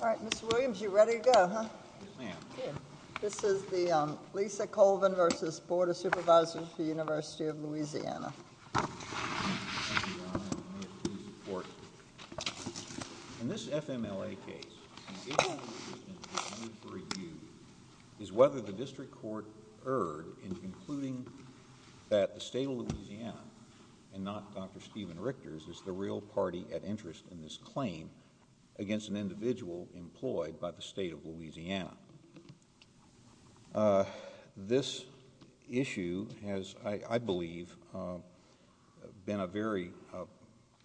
Alright, Mr. Williams, you're ready to go, huh? Yes, ma'am. Good. This is the Lisa Colvin v. Board of Supervisors of the University of Louisiana. Thank you, Your Honor, and may it please the Court. In this FMLA case, an issue of interest is being reviewed is whether the District Court erred in concluding that the State of Louisiana and not Dr. Steven Richter's is the real party at interest in this claim against an individual employed by the State of Louisiana. This issue has, I believe, been a very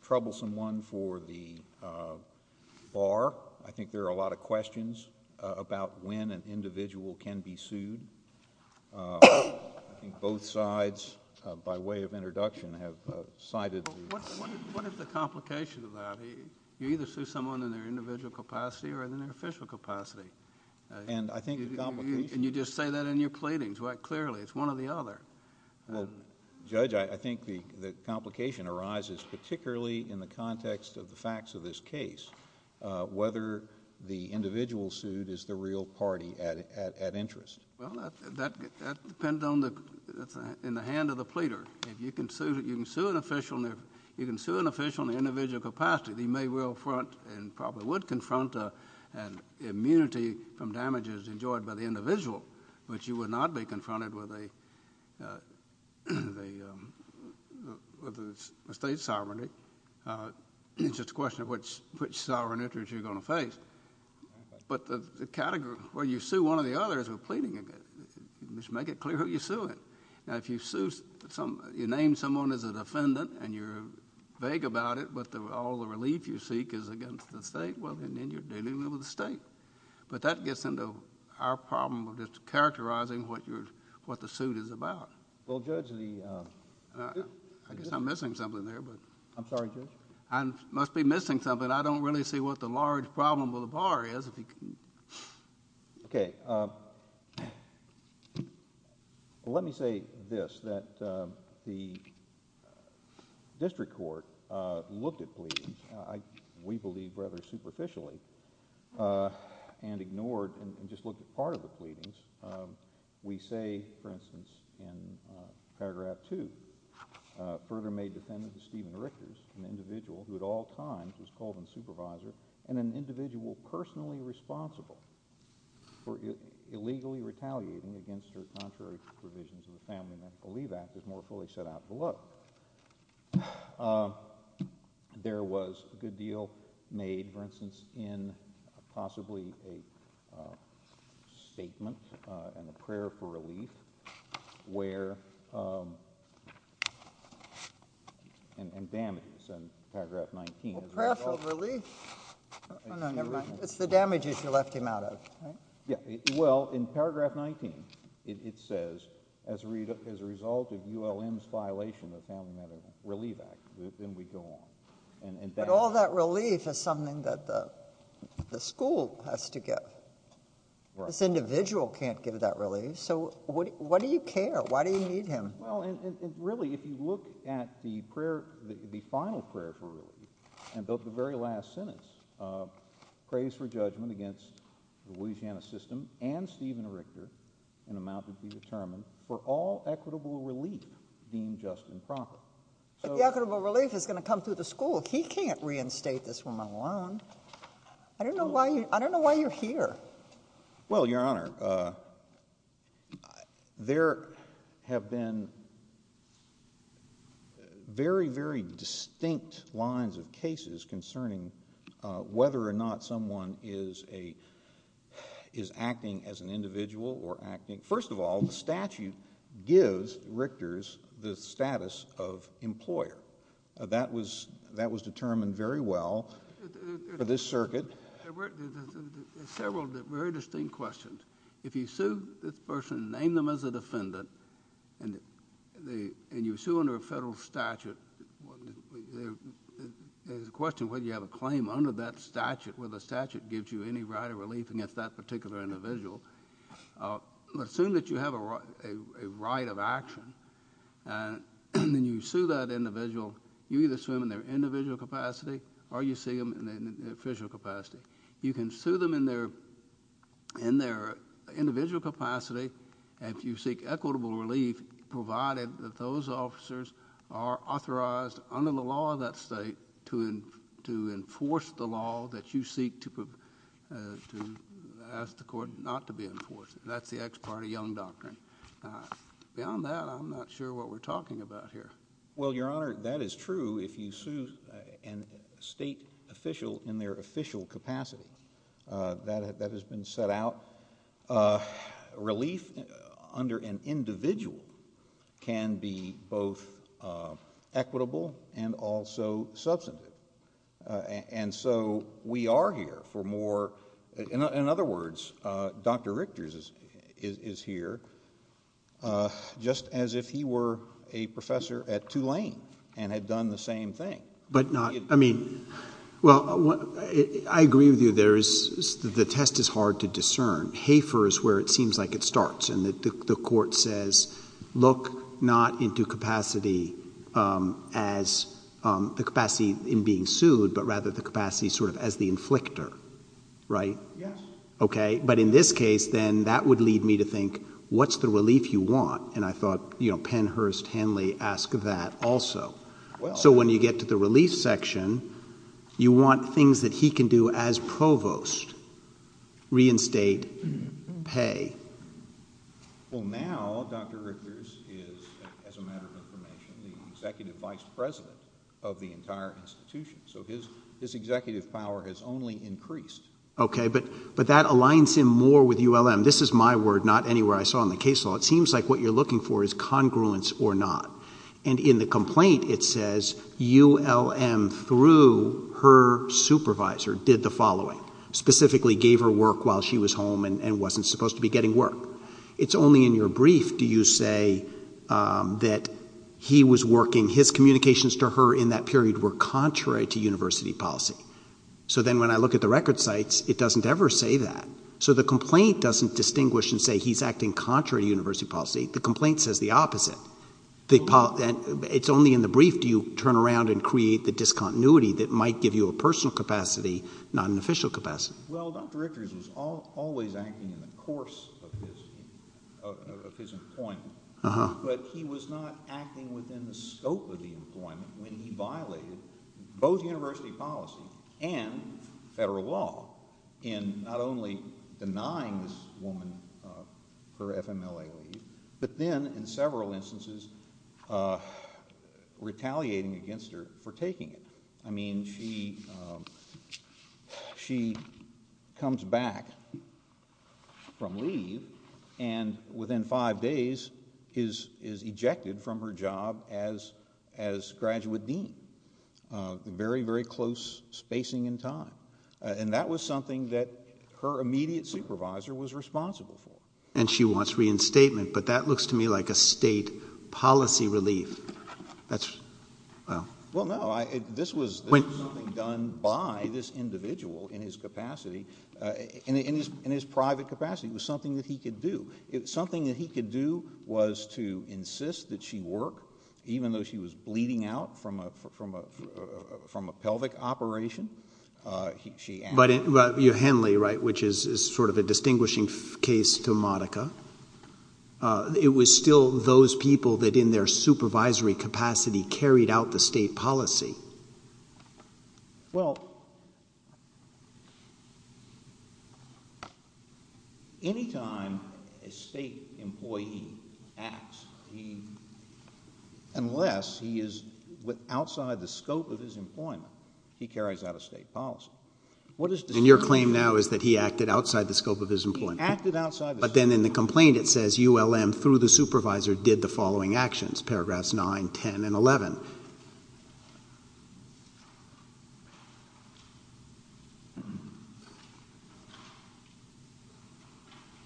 troublesome one for the Bar. I think there are a lot of questions about when an individual can be sued. I think both sides, by way of introduction, have cited... Well, what is the complication of that? You either sue someone in their individual capacity or in their official capacity. And I think the complication... And you just say that in your pleadings quite clearly. It's one or the other. Well, Judge, I think the complication arises particularly in the context of the facts of this case, whether the individual sued is the real party at interest. Well, that depends on the... in the hand of the pleader. If you can sue an official in the individual capacity, you may well front and probably would confront an immunity from damages enjoyed by the individual. But you would not be confronted with a state sovereignty. It's just a question of which sovereign interest you're going to face. But the category where you sue one or the other is a pleading event. You just make it clear who you're suing. Now, if you name someone as a defendant and you're vague about it, but all the relief you seek is against the state, well, then you're dealing with the state. But that gets into our problem of just characterizing what the suit is about. Well, Judge, the... I guess I'm missing something there, but... I'm sorry, Judge? I must be missing something. I don't really see what the large problem with the bar is. Okay. Let me say this, that the district court looked at pleadings, we believe rather superficially, and ignored and just looked at part of the pleadings. We say, for instance, in Paragraph 2, further made defendant to Stephen Rickers, an individual who at all times was called a supervisor, and an individual personally responsible for illegally retaliating against her contrary provisions of the Family Medical Relief Act is more fully set out below. There was a good deal made, for instance, in possibly a statement and a prayer for relief, where... and damages in Paragraph 19... A prayer for relief? Oh, no, never mind. It's the damages you left him out of. Well, in Paragraph 19, it says, as a result of ULM's violation of the Family Medical Relief Act, then we go on. But all that relief is something that the school has to give. This individual can't give that relief, so what do you care? Why do you need him? Well, really, if you look at the prayer, the final prayer for relief, and the very last sentence of praise for judgment against the Louisiana system and Stephen Ricker in amount to be determined for all equitable relief deemed just and proper. But the equitable relief is going to come through the school. He can't reinstate this woman alone. I don't know why you're here. Well, Your Honor, there have been very, very distinct lines of cases concerning whether or not someone is acting as an individual or acting... First of all, the statute gives Richters the status of employer. That was determined very well for this circuit. There are several very distinct questions. If you sue this person, name them as a defendant, and you sue under a federal statute, there's a question whether you have a claim under that statute where the statute gives you any right of relief against that particular individual. Assume that you have a right of action, and then you sue that individual. You either sue them in their individual capacity or you sue them in their official capacity. You can sue them in their individual capacity if you seek equitable relief, provided that those officers are authorized under the law of that state to enforce the law that you seek to ask the court not to be enforced. That's the ex parte Young Doctrine. Beyond that, I'm not sure what we're talking about here. Well, Your Honor, that is true if you sue a state official in their official capacity. That has been set out. Relief under an individual can be both equitable and also substantive. And so we are here for more... But not... I mean, well, I agree with you. The test is hard to discern. HAFER is where it seems like it starts, and the court says, look not into capacity as the capacity in being sued, but rather the capacity sort of as the inflictor. Right? Yes. Okay. But in this case, then that would lead me to think, what's the relief you want? And I thought, you know, Pennhurst, Henley, ask that also. So when you get to the relief section, you want things that he can do as provost. Reinstate, pay. Well, now Dr. Richards is, as a matter of information, the executive vice president of the entire institution. So his executive power has only increased. Okay. But that aligns him more with ULM. This is my word, not anywhere I saw in the case law. It seems like what you're looking for is congruence or not. And in the complaint, it says ULM, through her supervisor, did the following, specifically gave her work while she was home and wasn't supposed to be getting work. It's only in your brief do you say that he was working. His communications to her in that period were contrary to university policy. So then when I look at the record sites, it doesn't ever say that. So the complaint doesn't distinguish and say he's acting contrary to university policy. The complaint says the opposite. It's only in the brief do you turn around and create the discontinuity that might give you a personal capacity, not an official capacity. Well, Dr. Richards was always acting in the course of his employment. But he was not acting within the scope of the employment when he violated both university policy and federal law in not only denying this woman her FMLA leave, but then in several instances retaliating against her for taking it. I mean she comes back from leave and within five days is ejected from her job as graduate dean. Very, very close spacing in time. And that was something that her immediate supervisor was responsible for. And she wants reinstatement, but that looks to me like a state policy relief. Well, no, this was something done by this individual in his capacity, in his private capacity. It was something that he could do. It was something that he could do was to insist that she work, even though she was bleeding out from a pelvic operation. But Henley, right, which is sort of a distinguishing case to Monica, it was still those people that in their supervisory capacity carried out the state policy. Well, any time a state employee acts, unless he is outside the scope of his employment, he carries out a state policy. And your claim now is that he acted outside the scope of his employment. He acted outside the scope. But then in the complaint it says ULM through the supervisor did the following actions, Paragraphs 9, 10, and 11.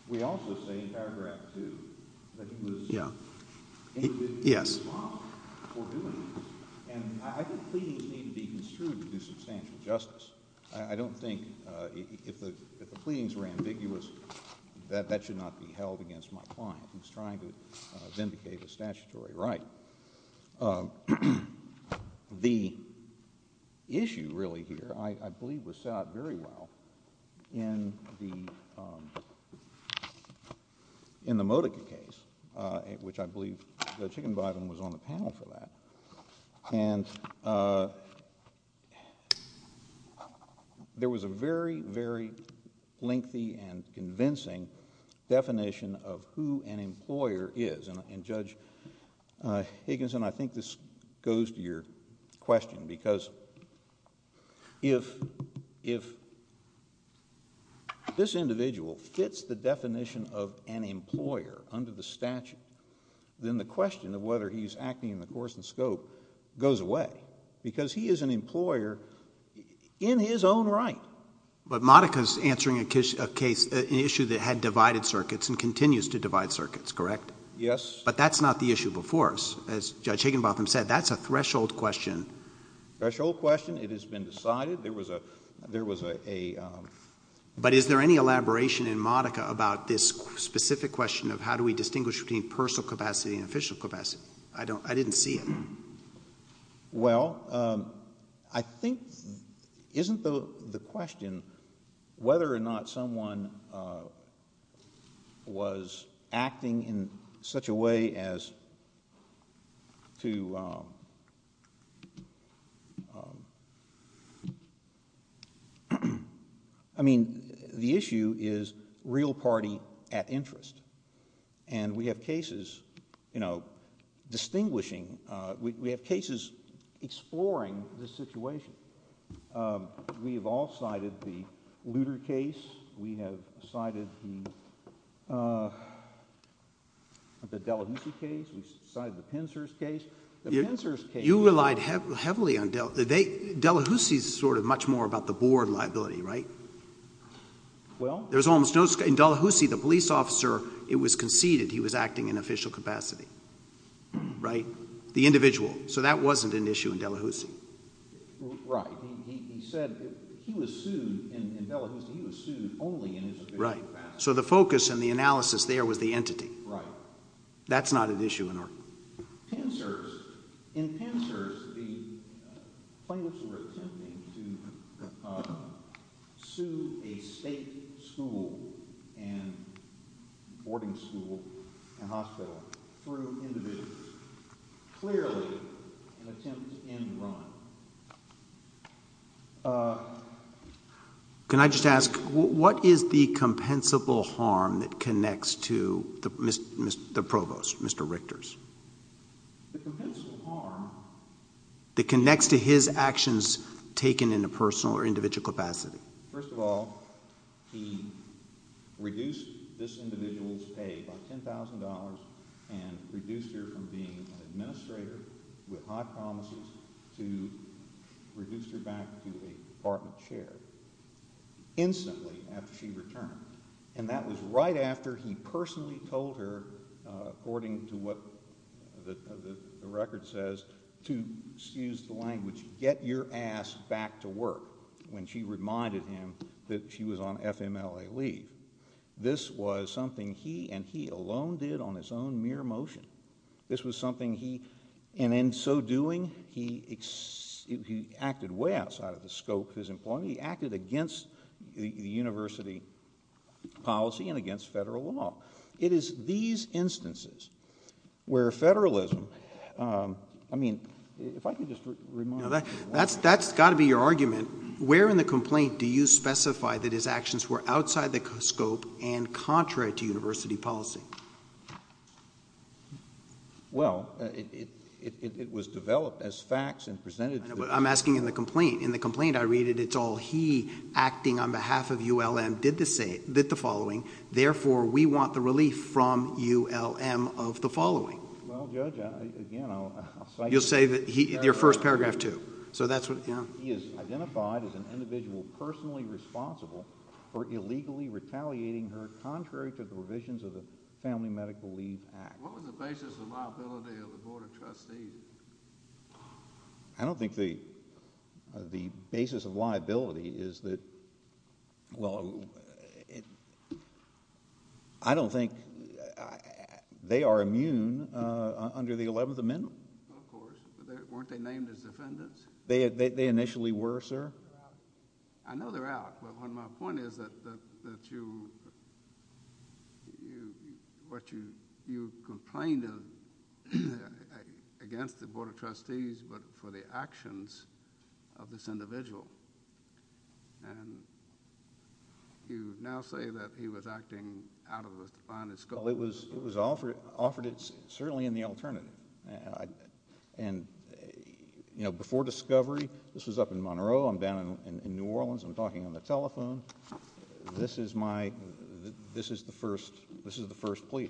We also say in Paragraph 2 that he was indigent in response for doing this. And I think pleadings need to be construed to do substantial justice. I don't think if the pleadings were ambiguous that that should not be held against my client. He was trying to vindicate a statutory right. The issue really here I believe was set out very well in the Modica case, which I believe that Chicken Biden was on the panel for that. And there was a very, very lengthy and convincing definition of who an employer is. And Judge Higginson, I think this goes to your question. Because if this individual fits the definition of an employer under the statute, then the question of whether he's acting in the course and scope goes away. Because he is an employer in his own right. But Modica's answering an issue that had divided circuits and continues to divide circuits, correct? Yes. But that's not the issue before us. As Judge Higginbotham said, that's a threshold question. Threshold question. It has been decided. There was a... But is there any elaboration in Modica about this specific question of how do we distinguish between personal capacity and official capacity? I didn't see it. Well, I think isn't the question whether or not someone was acting in such a way as to... I mean the issue is real party at interest. And we have cases, you know, distinguishing... We have cases exploring this situation. We have all cited the Luder case. We have cited the... the Delahousie case. We've cited the Pinser's case. The Pinser's case... You relied heavily on... Delahousie is sort of much more about the board liability, right? Well... In Delahousie, the police officer, it was conceded he was acting in official capacity. Right? The individual. So that wasn't an issue in Delahousie. Right. He said he was sued in Delahousie. He was sued only in his official capacity. Right. So the focus and the analysis there was the entity. Right. That's not an issue in Oregon. Pinser's... In Pinser's, the plaintiffs were attempting to sue a state school and... boarding school and hospital through individuals. Clearly, an attempt to end Ron. Can I just ask, what is the compensable harm that connects to the provost, Mr. Richter's? The compensable harm... That connects to his actions taken in a personal or individual capacity. First of all, he reduced this individual's pay by $10,000 and reduced her from being an administrator with high promises to reduce her back to a department chair instantly after she returned. And that was right after he personally told her, according to what the record says, to, excuse the language, get your ass back to work when she reminded him that she was on FMLA leave. This was something he and he alone did on his own mere motion. This was something he... And in so doing, he acted way outside of the scope of his employment. He acted against the university policy and against federal law. It is these instances where federalism... I mean, if I could just remind... That's got to be your argument. Where in the complaint do you specify that his actions were outside the scope and contrary to university policy? Well, it was developed as facts and presented... I'm asking in the complaint. In the complaint I read it, it's all he, acting on behalf of ULM, did the following. Therefore, we want the relief from ULM of the following. Well, Judge, again, I'll cite... You'll say that he... your first paragraph, too. So that's what... He is identified as an individual personally responsible for illegally retaliating her contrary to the provisions of the Family Medical Leave Act. What was the basis of liability of the Board of Trustees? I don't think the basis of liability is that... Well, I don't think... they are immune under the 11th Amendment. Of course. Weren't they named as defendants? They initially were, sir. I know they're out. But my point is that you... what you... you complained against the Board of Trustees, but for the actions of this individual. And you now say that he was acting out of a defiant... Well, it was offered... it's certainly in the alternative. And, you know, before discovery, this was up in Monroe. I'm down in New Orleans. I'm talking on the telephone. This is my... this is the first... this is the first plea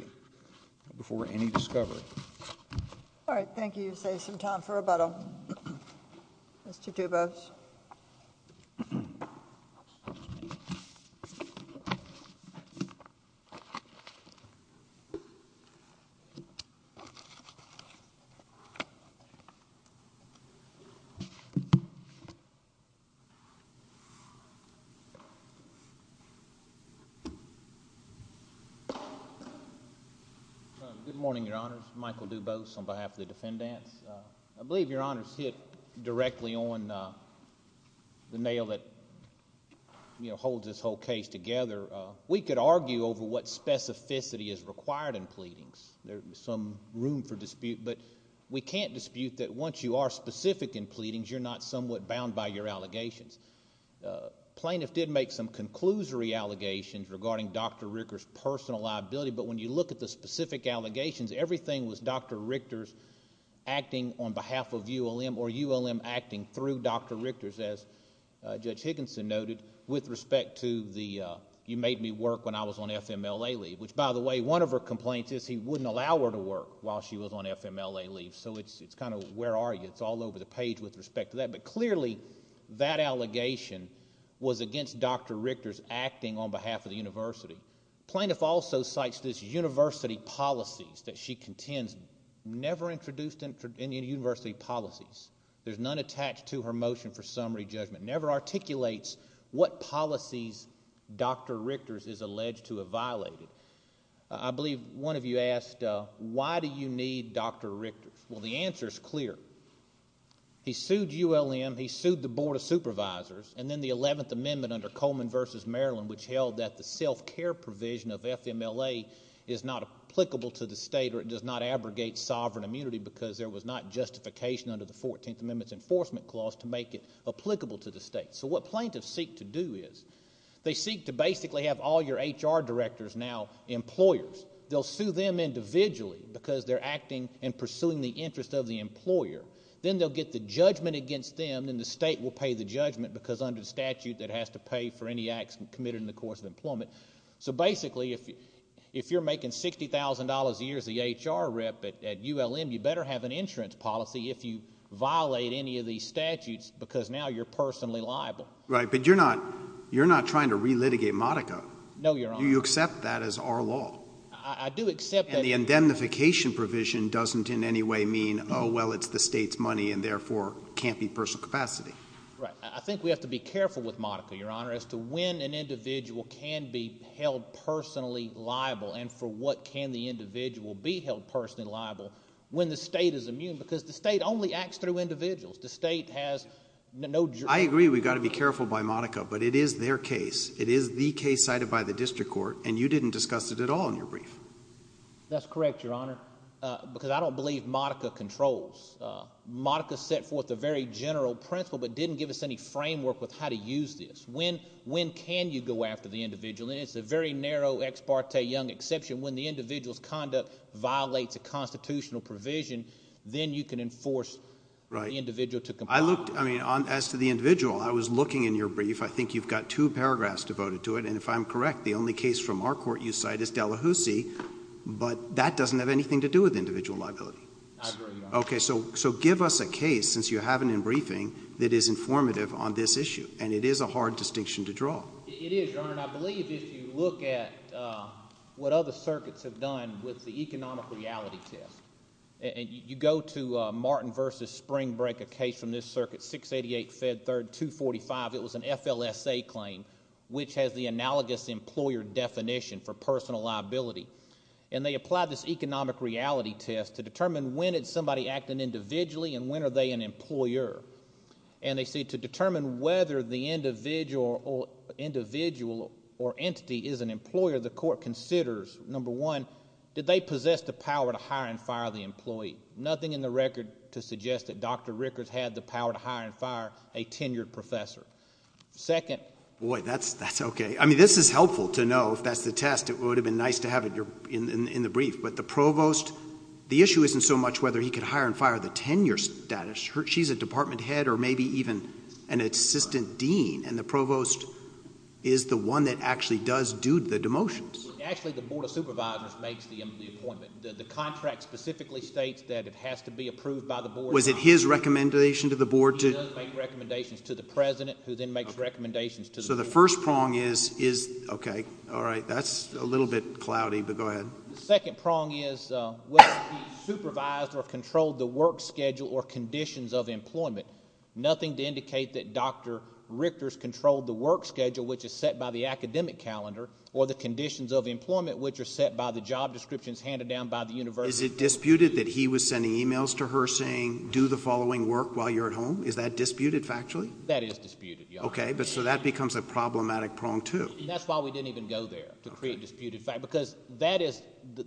before any discovery. All right. You saved some time for rebuttal. Mr. Dubose. Good morning, Your Honors. Michael Dubose on behalf of the defendants. I believe Your Honors hit directly on the nail that, you know, holds this whole case together. We could argue over what specificity is required in pleadings. There's some room for dispute. But we can't dispute that once you are specific in pleadings, you're not somewhat bound by your allegations. Plaintiff did make some conclusory allegations regarding Dr. Richter's personal liability. But when you look at the specific allegations, everything was Dr. Richter's acting on behalf of ULM or ULM acting through Dr. Richter's, as Judge Higginson noted, with respect to the... you made me work when I was on FMLA leave. Which, by the way, one of her complaints is he wouldn't allow her to work while she was on FMLA leave. So it's kind of where are you? It's all over the page with respect to that. But clearly, that allegation was against Dr. Richter's acting on behalf of the university. Plaintiff also cites this university policies that she contends never introduced in university policies. There's none attached to her motion for summary judgment. Never articulates what policies Dr. Richter's is alleged to have violated. I believe one of you asked, why do you need Dr. Richter's? Well, the answer is clear. He sued ULM. He sued the Board of Supervisors. And then the 11th Amendment under Coleman v. Maryland, which held that the self-care provision of FMLA is not applicable to the state or it does not abrogate sovereign immunity because there was not justification under the 14th Amendment's enforcement clause to make it applicable to the state. So what plaintiffs seek to do is they seek to basically have all your HR directors now employers. They'll sue them individually because they're acting and pursuing the interest of the employer. Then they'll get the judgment against them, and then the state will pay the judgment because under the statute it has to pay for any acts committed in the course of employment. So basically, if you're making $60,000 a year as the HR rep at ULM, you better have an insurance policy if you violate any of these statutes because now you're personally liable. Right, but you're not trying to relitigate Modica. No, Your Honor. Do you accept that as our law? I do accept that. The indemnification provision doesn't in any way mean, oh, well, it's the state's money and therefore can't be personal capacity. Right. I think we have to be careful with Modica, Your Honor, as to when an individual can be held personally liable and for what can the individual be held personally liable when the state is immune because the state only acts through individuals. The state has no jury. I agree we've got to be careful by Modica, but it is their case. It is the case cited by the district court, and you didn't discuss it at all in your brief. That's correct, Your Honor, because I don't believe Modica controls. Modica set forth a very general principle but didn't give us any framework with how to use this. When can you go after the individual? And it's a very narrow ex parte Young exception. When the individual's conduct violates a constitutional provision, then you can enforce the individual to comply. I mean, as to the individual, I was looking in your brief. I think you've got two paragraphs devoted to it, and if I'm correct, the only case from our court you cite is Delahoussee, but that doesn't have anything to do with individual liability. I agree, Your Honor. Okay, so give us a case, since you have it in briefing, that is informative on this issue, and it is a hard distinction to draw. It is, Your Honor, and I believe if you look at what other circuits have done with the economic reality test, and you go to Martin v. Spring Break, a case from this circuit, 688 Fed 3rd 245. It was an FLSA claim, which has the analogous employer definition for personal liability, and they applied this economic reality test to determine when is somebody acting individually and when are they an employer? And they say to determine whether the individual or entity is an employer, the court considers, number one, did they possess the power to hire and fire the employee? Nothing in the record to suggest that Dr. Rickards had the power to hire and fire a tenured professor. Second. Boy, that's okay. I mean, this is helpful to know if that's the test. It would have been nice to have it in the brief, but the provost, the issue isn't so much whether he could hire and fire the tenure status. She's a department head or maybe even an assistant dean, and the provost is the one that actually does do the demotions. Actually, the Board of Supervisors makes the appointment. The contract specifically states that it has to be approved by the board. Was it his recommendation to the board? He does make recommendations to the president, who then makes recommendations to the board. So the first prong is, okay, all right, that's a little bit cloudy, but go ahead. The second prong is whether he supervised or controlled the work schedule or conditions of employment. Nothing to indicate that Dr. Rickards controlled the work schedule, which is set by the academic calendar, or the conditions of employment, which are set by the job descriptions handed down by the university. Is it disputed that he was sending e-mails to her saying do the following work while you're at home? Is that disputed factually? That is disputed, Your Honor. Okay, but so that becomes a problematic prong too. That's why we didn't even go there, to create disputed facts, because that is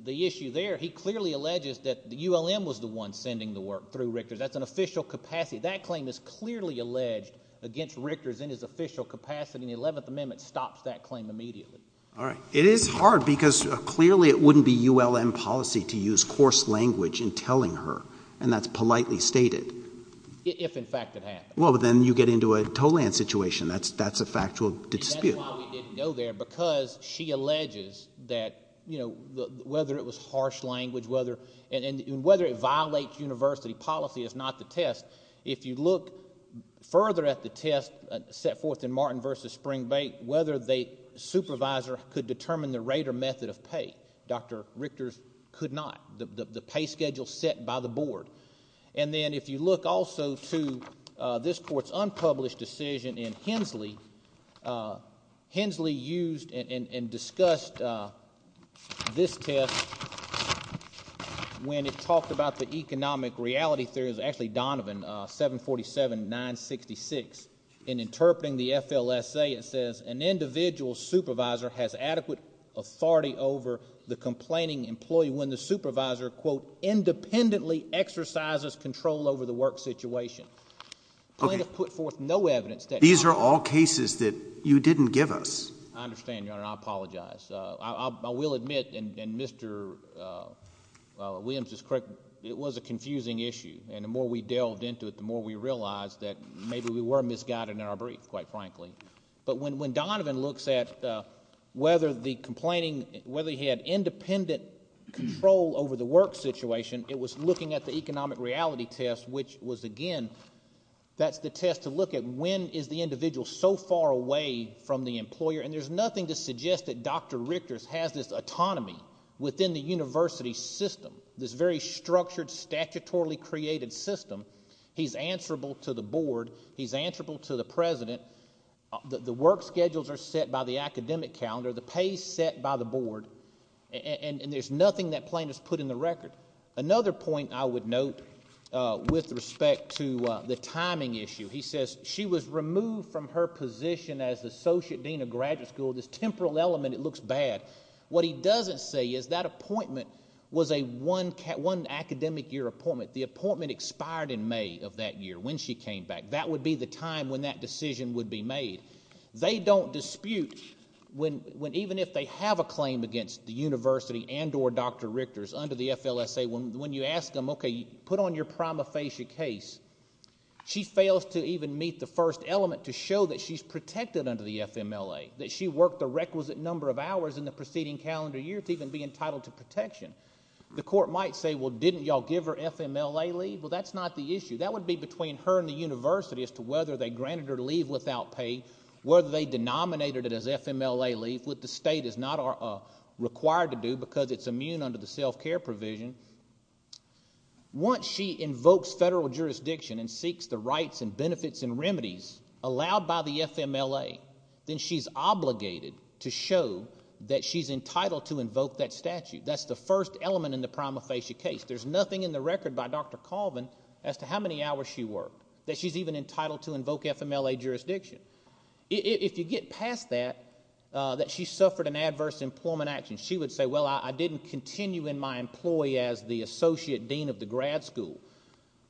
the issue there. He clearly alleges that ULM was the one sending the work through Rickards. That's an official capacity. That claim is clearly alleged against Rickards in his official capacity, and the Eleventh Amendment stops that claim immediately. All right. It is hard because clearly it wouldn't be ULM policy to use coarse language in telling her, and that's politely stated. If, in fact, it happened. Well, but then you get into a Tolland situation. That's a factual dispute. And that's why we didn't go there, because she alleges that, you know, whether it was harsh language, and whether it violates university policy is not the test. If you look further at the test set forth in Martin v. Springbank, whether the supervisor could determine the rate or method of pay, Dr. Rickards could not, the pay schedule set by the board. And then if you look also to this court's unpublished decision in Hensley, Hensley used and discussed this test when it talked about the economic reality theory. It was actually Donovan, 747-966. In interpreting the FLSA, it says an individual supervisor has adequate authority over the complaining employee when the supervisor, quote, independently exercises control over the work situation. Okay. The plaintiff put forth no evidence that. These are all cases that you didn't give us. I understand, Your Honor, and I apologize. I will admit, and Mr. Williams is correct, it was a confusing issue. And the more we delved into it, the more we realized that maybe we were misguided in our brief, quite frankly. But when Donovan looks at whether the complaining, whether he had independent control over the work situation, it was looking at the economic reality test, which was, again, that's the test to look at when is the individual so far away from the employer. And there's nothing to suggest that Dr. Rickards has this autonomy within the university system, this very structured, statutorily created system. He's answerable to the board. He's answerable to the president. The work schedules are set by the academic calendar. The pay is set by the board. And there's nothing that plaintiff's put in the record. Another point I would note with respect to the timing issue. He says she was removed from her position as the associate dean of graduate school. This temporal element, it looks bad. What he doesn't say is that appointment was a one academic year appointment. The appointment expired in May of that year when she came back. That would be the time when that decision would be made. They don't dispute when even if they have a claim against the university and or Dr. Rickards under the FLSA, when you ask them, okay, put on your prima facie case, she fails to even meet the first element to show that she's protected under the FMLA, that she worked a requisite number of hours in the preceding calendar year to even be entitled to protection. The court might say, well, didn't you all give her FMLA leave? Well, that's not the issue. That would be between her and the university as to whether they granted her leave without pay, whether they denominated it as FMLA leave, what the state is not required to do because it's immune under the self-care provision. Once she invokes federal jurisdiction and seeks the rights and benefits and remedies allowed by the FMLA, then she's obligated to show that she's entitled to invoke that statute. That's the first element in the prima facie case. There's nothing in the record by Dr. Colvin as to how many hours she worked, that she's even entitled to invoke FMLA jurisdiction. If you get past that, that she suffered an adverse employment action, she would say, well, I didn't continue in my employee as the associate dean of the grad school.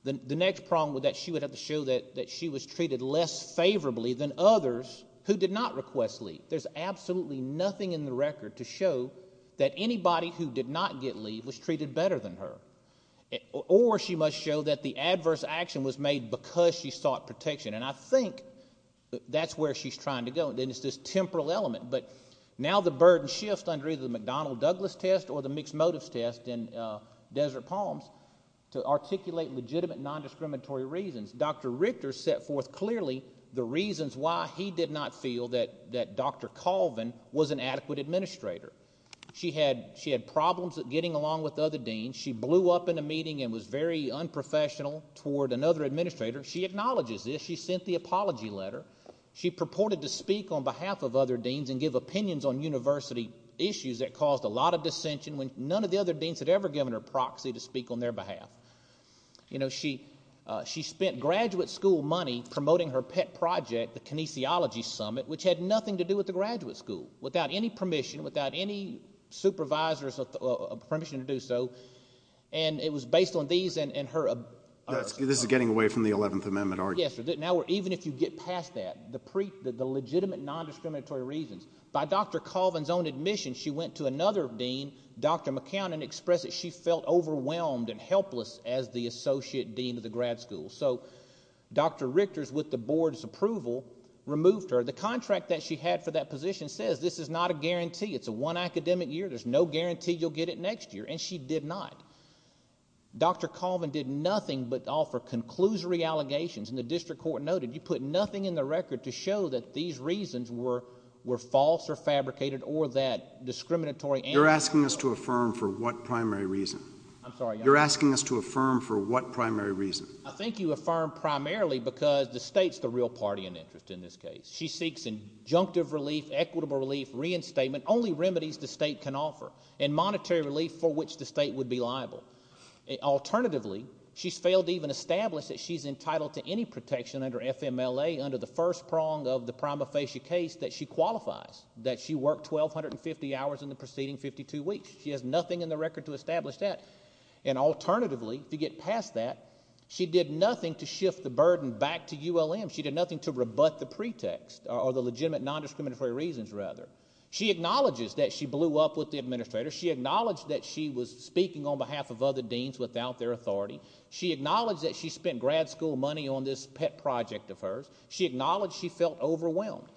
The next problem with that, she would have to show that she was treated less favorably than others who did not request leave. There's absolutely nothing in the record to show that anybody who did not get leave was treated better than her. Or she must show that the adverse action was made because she sought protection. And I think that's where she's trying to go, and it's this temporal element. But now the burden shifts under either the McDonnell-Douglas test or the mixed motives test in Desert Palms to articulate legitimate nondiscriminatory reasons. Dr. Richter set forth clearly the reasons why he did not feel that Dr. Colvin was an adequate administrator. She had problems getting along with other deans. She blew up in a meeting and was very unprofessional toward another administrator. She acknowledges this. She sent the apology letter. She purported to speak on behalf of other deans and give opinions on university issues that caused a lot of dissension when none of the other deans had ever given her proxy to speak on their behalf. She spent graduate school money promoting her pet project, the Kinesiology Summit, which had nothing to do with the graduate school, without any permission, without any supervisor's permission to do so. And it was based on these and her ab- This is getting away from the 11th Amendment argument. Yes, even if you get past that, the legitimate nondiscriminatory reasons. By Dr. Colvin's own admission, she went to another dean, Dr. McCown, and expressed that she felt overwhelmed and helpless as the associate dean of the grad school. So Dr. Richter, with the board's approval, removed her. The contract that she had for that position says this is not a guarantee. It's a one academic year. There's no guarantee you'll get it next year, and she did not. Dr. Colvin did nothing but offer conclusory allegations, and the district court noted, you put nothing in the record to show that these reasons were false or fabricated or that discriminatory- You're asking us to affirm for what primary reason? I'm sorry, Your Honor. You're asking us to affirm for what primary reason? I think you affirm primarily because the state's the real party in interest in this case. She seeks injunctive relief, equitable relief, reinstatement, only remedies the state can offer, and monetary relief for which the state would be liable. Alternatively, she's failed to even establish that she's entitled to any protection under FMLA under the first prong of the prima facie case that she qualifies, that she worked 1,250 hours in the preceding 52 weeks. She has nothing in the record to establish that. And alternatively, to get past that, she did nothing to shift the burden back to ULM. She did nothing to rebut the pretext or the legitimate nondiscriminatory reasons, rather. She acknowledges that she blew up with the administrator. She acknowledged that she was speaking on behalf of other deans without their authority. She acknowledged that she spent grad school money on this pet project of hers. She acknowledged she felt overwhelmed.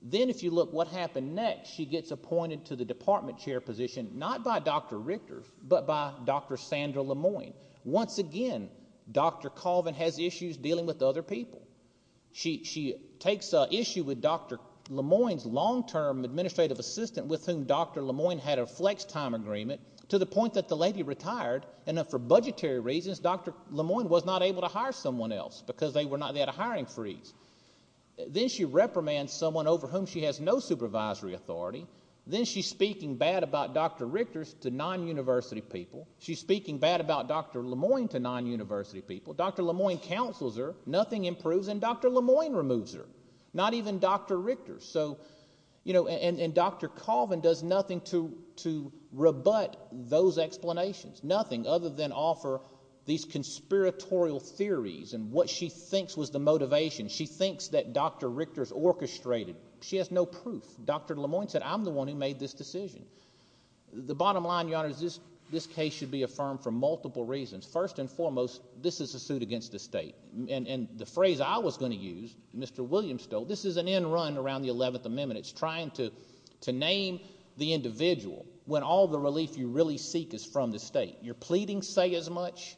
Then, if you look what happened next, she gets appointed to the department chair position, not by Dr. Richter, but by Dr. Sandra Lemoyne. Once again, Dr. Colvin has issues dealing with other people. She takes issue with Dr. Lemoyne's long-term administrative assistant with whom Dr. Lemoyne had a flex time agreement to the point that the lady retired. And for budgetary reasons, Dr. Lemoyne was not able to hire someone else because they had a hiring freeze. Then she reprimands someone over whom she has no supervisory authority. Then she's speaking bad about Dr. Richter to non-university people. She's speaking bad about Dr. Lemoyne to non-university people. Dr. Lemoyne counsels her, nothing improves, and Dr. Lemoyne removes her, not even Dr. Richter. And Dr. Colvin does nothing to rebut those explanations, nothing other than offer these conspiratorial theories and what she thinks was the motivation. She thinks that Dr. Richter is orchestrated. She has no proof. Dr. Lemoyne said, I'm the one who made this decision. The bottom line, Your Honor, is this case should be affirmed for multiple reasons. First and foremost, this is a suit against the state. And the phrase I was going to use, Mr. Williams told, this is an end run around the 11th Amendment. It's trying to name the individual when all the relief you really seek is from the state. You're pleading say as much.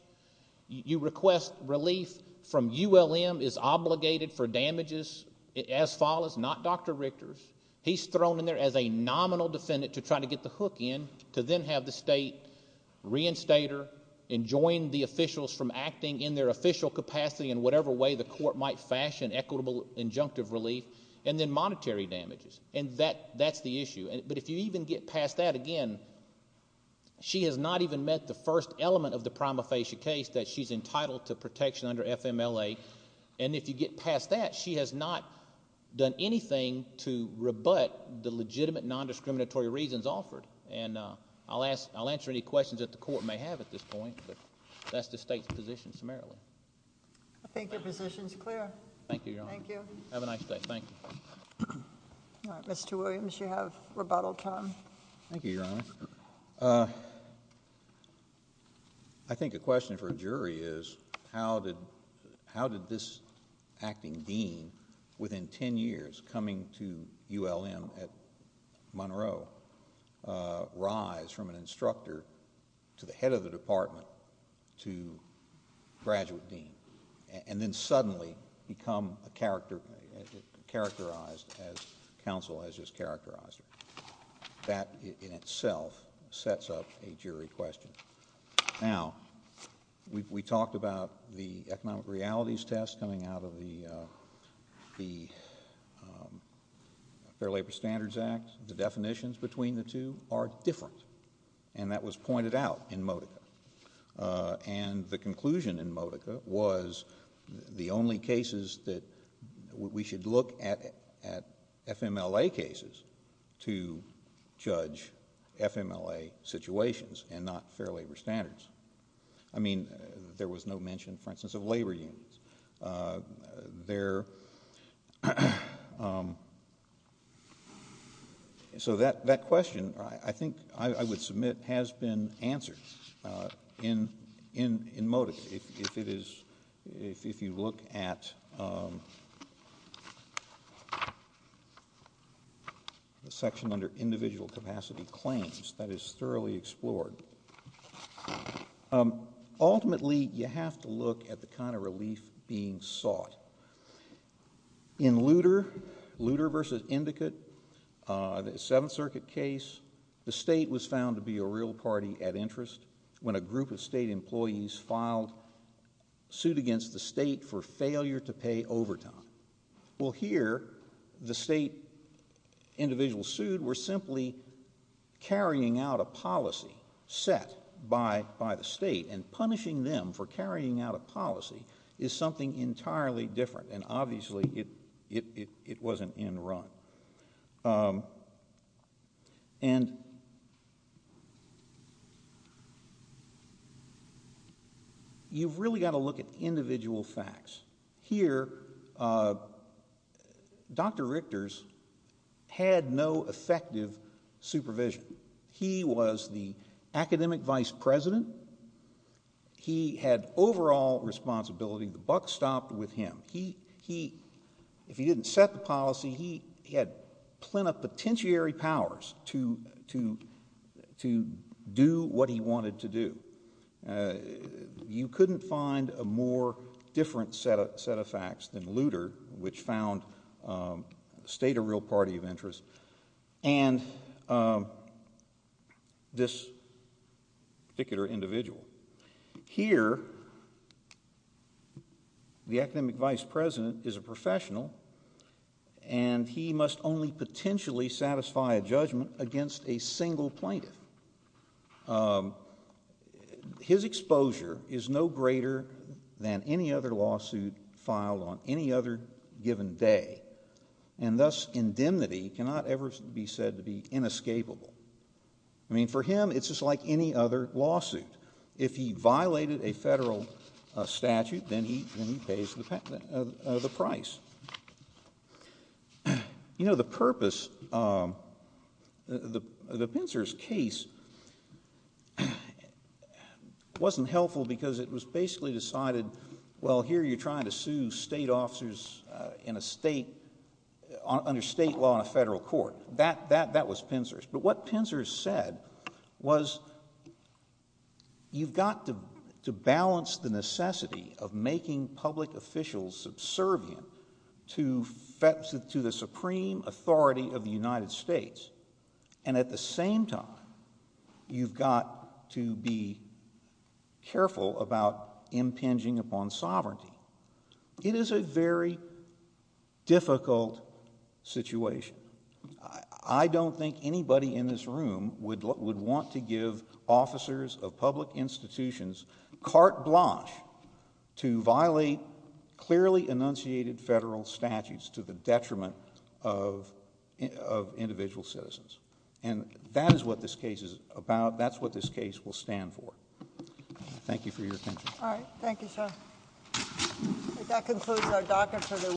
You request relief from ULM is obligated for damages as follows, not Dr. Richter's. He's thrown in there as a nominal defendant to try to get the hook in to then have the state reinstate her and join the officials from acting in their official capacity in whatever way the court might fashion equitable injunctive relief and then monetary damages. And that's the issue. But if you even get past that, again, she has not even met the first element of the prima facie case that she's entitled to protection under FMLA. And if you get past that, she has not done anything to rebut the legitimate nondiscriminatory reasons offered. And I'll answer any questions that the court may have at this point. But that's the state's position summarily. I think your position is clear. Thank you, Your Honor. Thank you. Have a nice day. Thank you. Mr. Williams, you have rebuttal time. Thank you, Your Honor. I think a question for a jury is how did this acting dean within ten years coming to ULM at Monroe rise from an instructor to the head of the department to graduate dean and then suddenly become characterized as counsel has just characterized her? That in itself sets up a jury question. Now, we talked about the economic realities test coming out of the Fair Labor Standards Act. The definitions between the two are different. And the conclusion in MOVCA was the only cases that we should look at FMLA cases to judge FMLA situations and not Fair Labor Standards. I mean, there was no mention, for instance, of labor unions. So that question, I think I would submit, has been answered in MOVCA. If you look at the section under individual capacity claims, that is thoroughly explored. Ultimately, you have to look at the kind of relief being sought. In Lutter v. Indicate, the Seventh Circuit case, the state was found to be a real party at interest when a group of state employees filed suit against the state for failure to pay overtime. Well, here, the state individuals sued were simply carrying out a policy set by the state and punishing them for carrying out a policy is something entirely different. And obviously, it wasn't in run. You've really got to look at individual facts. Here, Dr. Richter's had no effective supervision. He was the academic vice president. He had overall responsibility. The buck stopped with him. If he didn't set the policy, he had plenipotentiary powers to do what he wanted to do. You couldn't find a more different set of facts than Lutter, which found the state a real party of interest, and this particular individual. Here, the academic vice president is a professional, and he must only potentially satisfy a judgment against a single plaintiff. His exposure is no greater than any other lawsuit filed on any other given day, and thus indemnity cannot ever be said to be inescapable. I mean, for him, it's just like any other lawsuit. If he violated a federal statute, then he pays the price. You know, the purpose of the Pinser's case wasn't helpful because it was basically decided, well, here you're trying to sue state officers under state law in a federal court. That was Pinser's. But what Pinser said was you've got to balance the necessity of making public officials subservient to the supreme authority of the United States, and at the same time, you've got to be careful about impinging upon sovereignty. It is a very difficult situation. I don't think anybody in this room would want to give officers of public institutions carte blanche to violate clearly enunciated federal statutes to the detriment of individual citizens, and that is what this case is about. That's what this case will stand for. Thank you for your attention. All right. Thank you, sir. That concludes our docket for the week.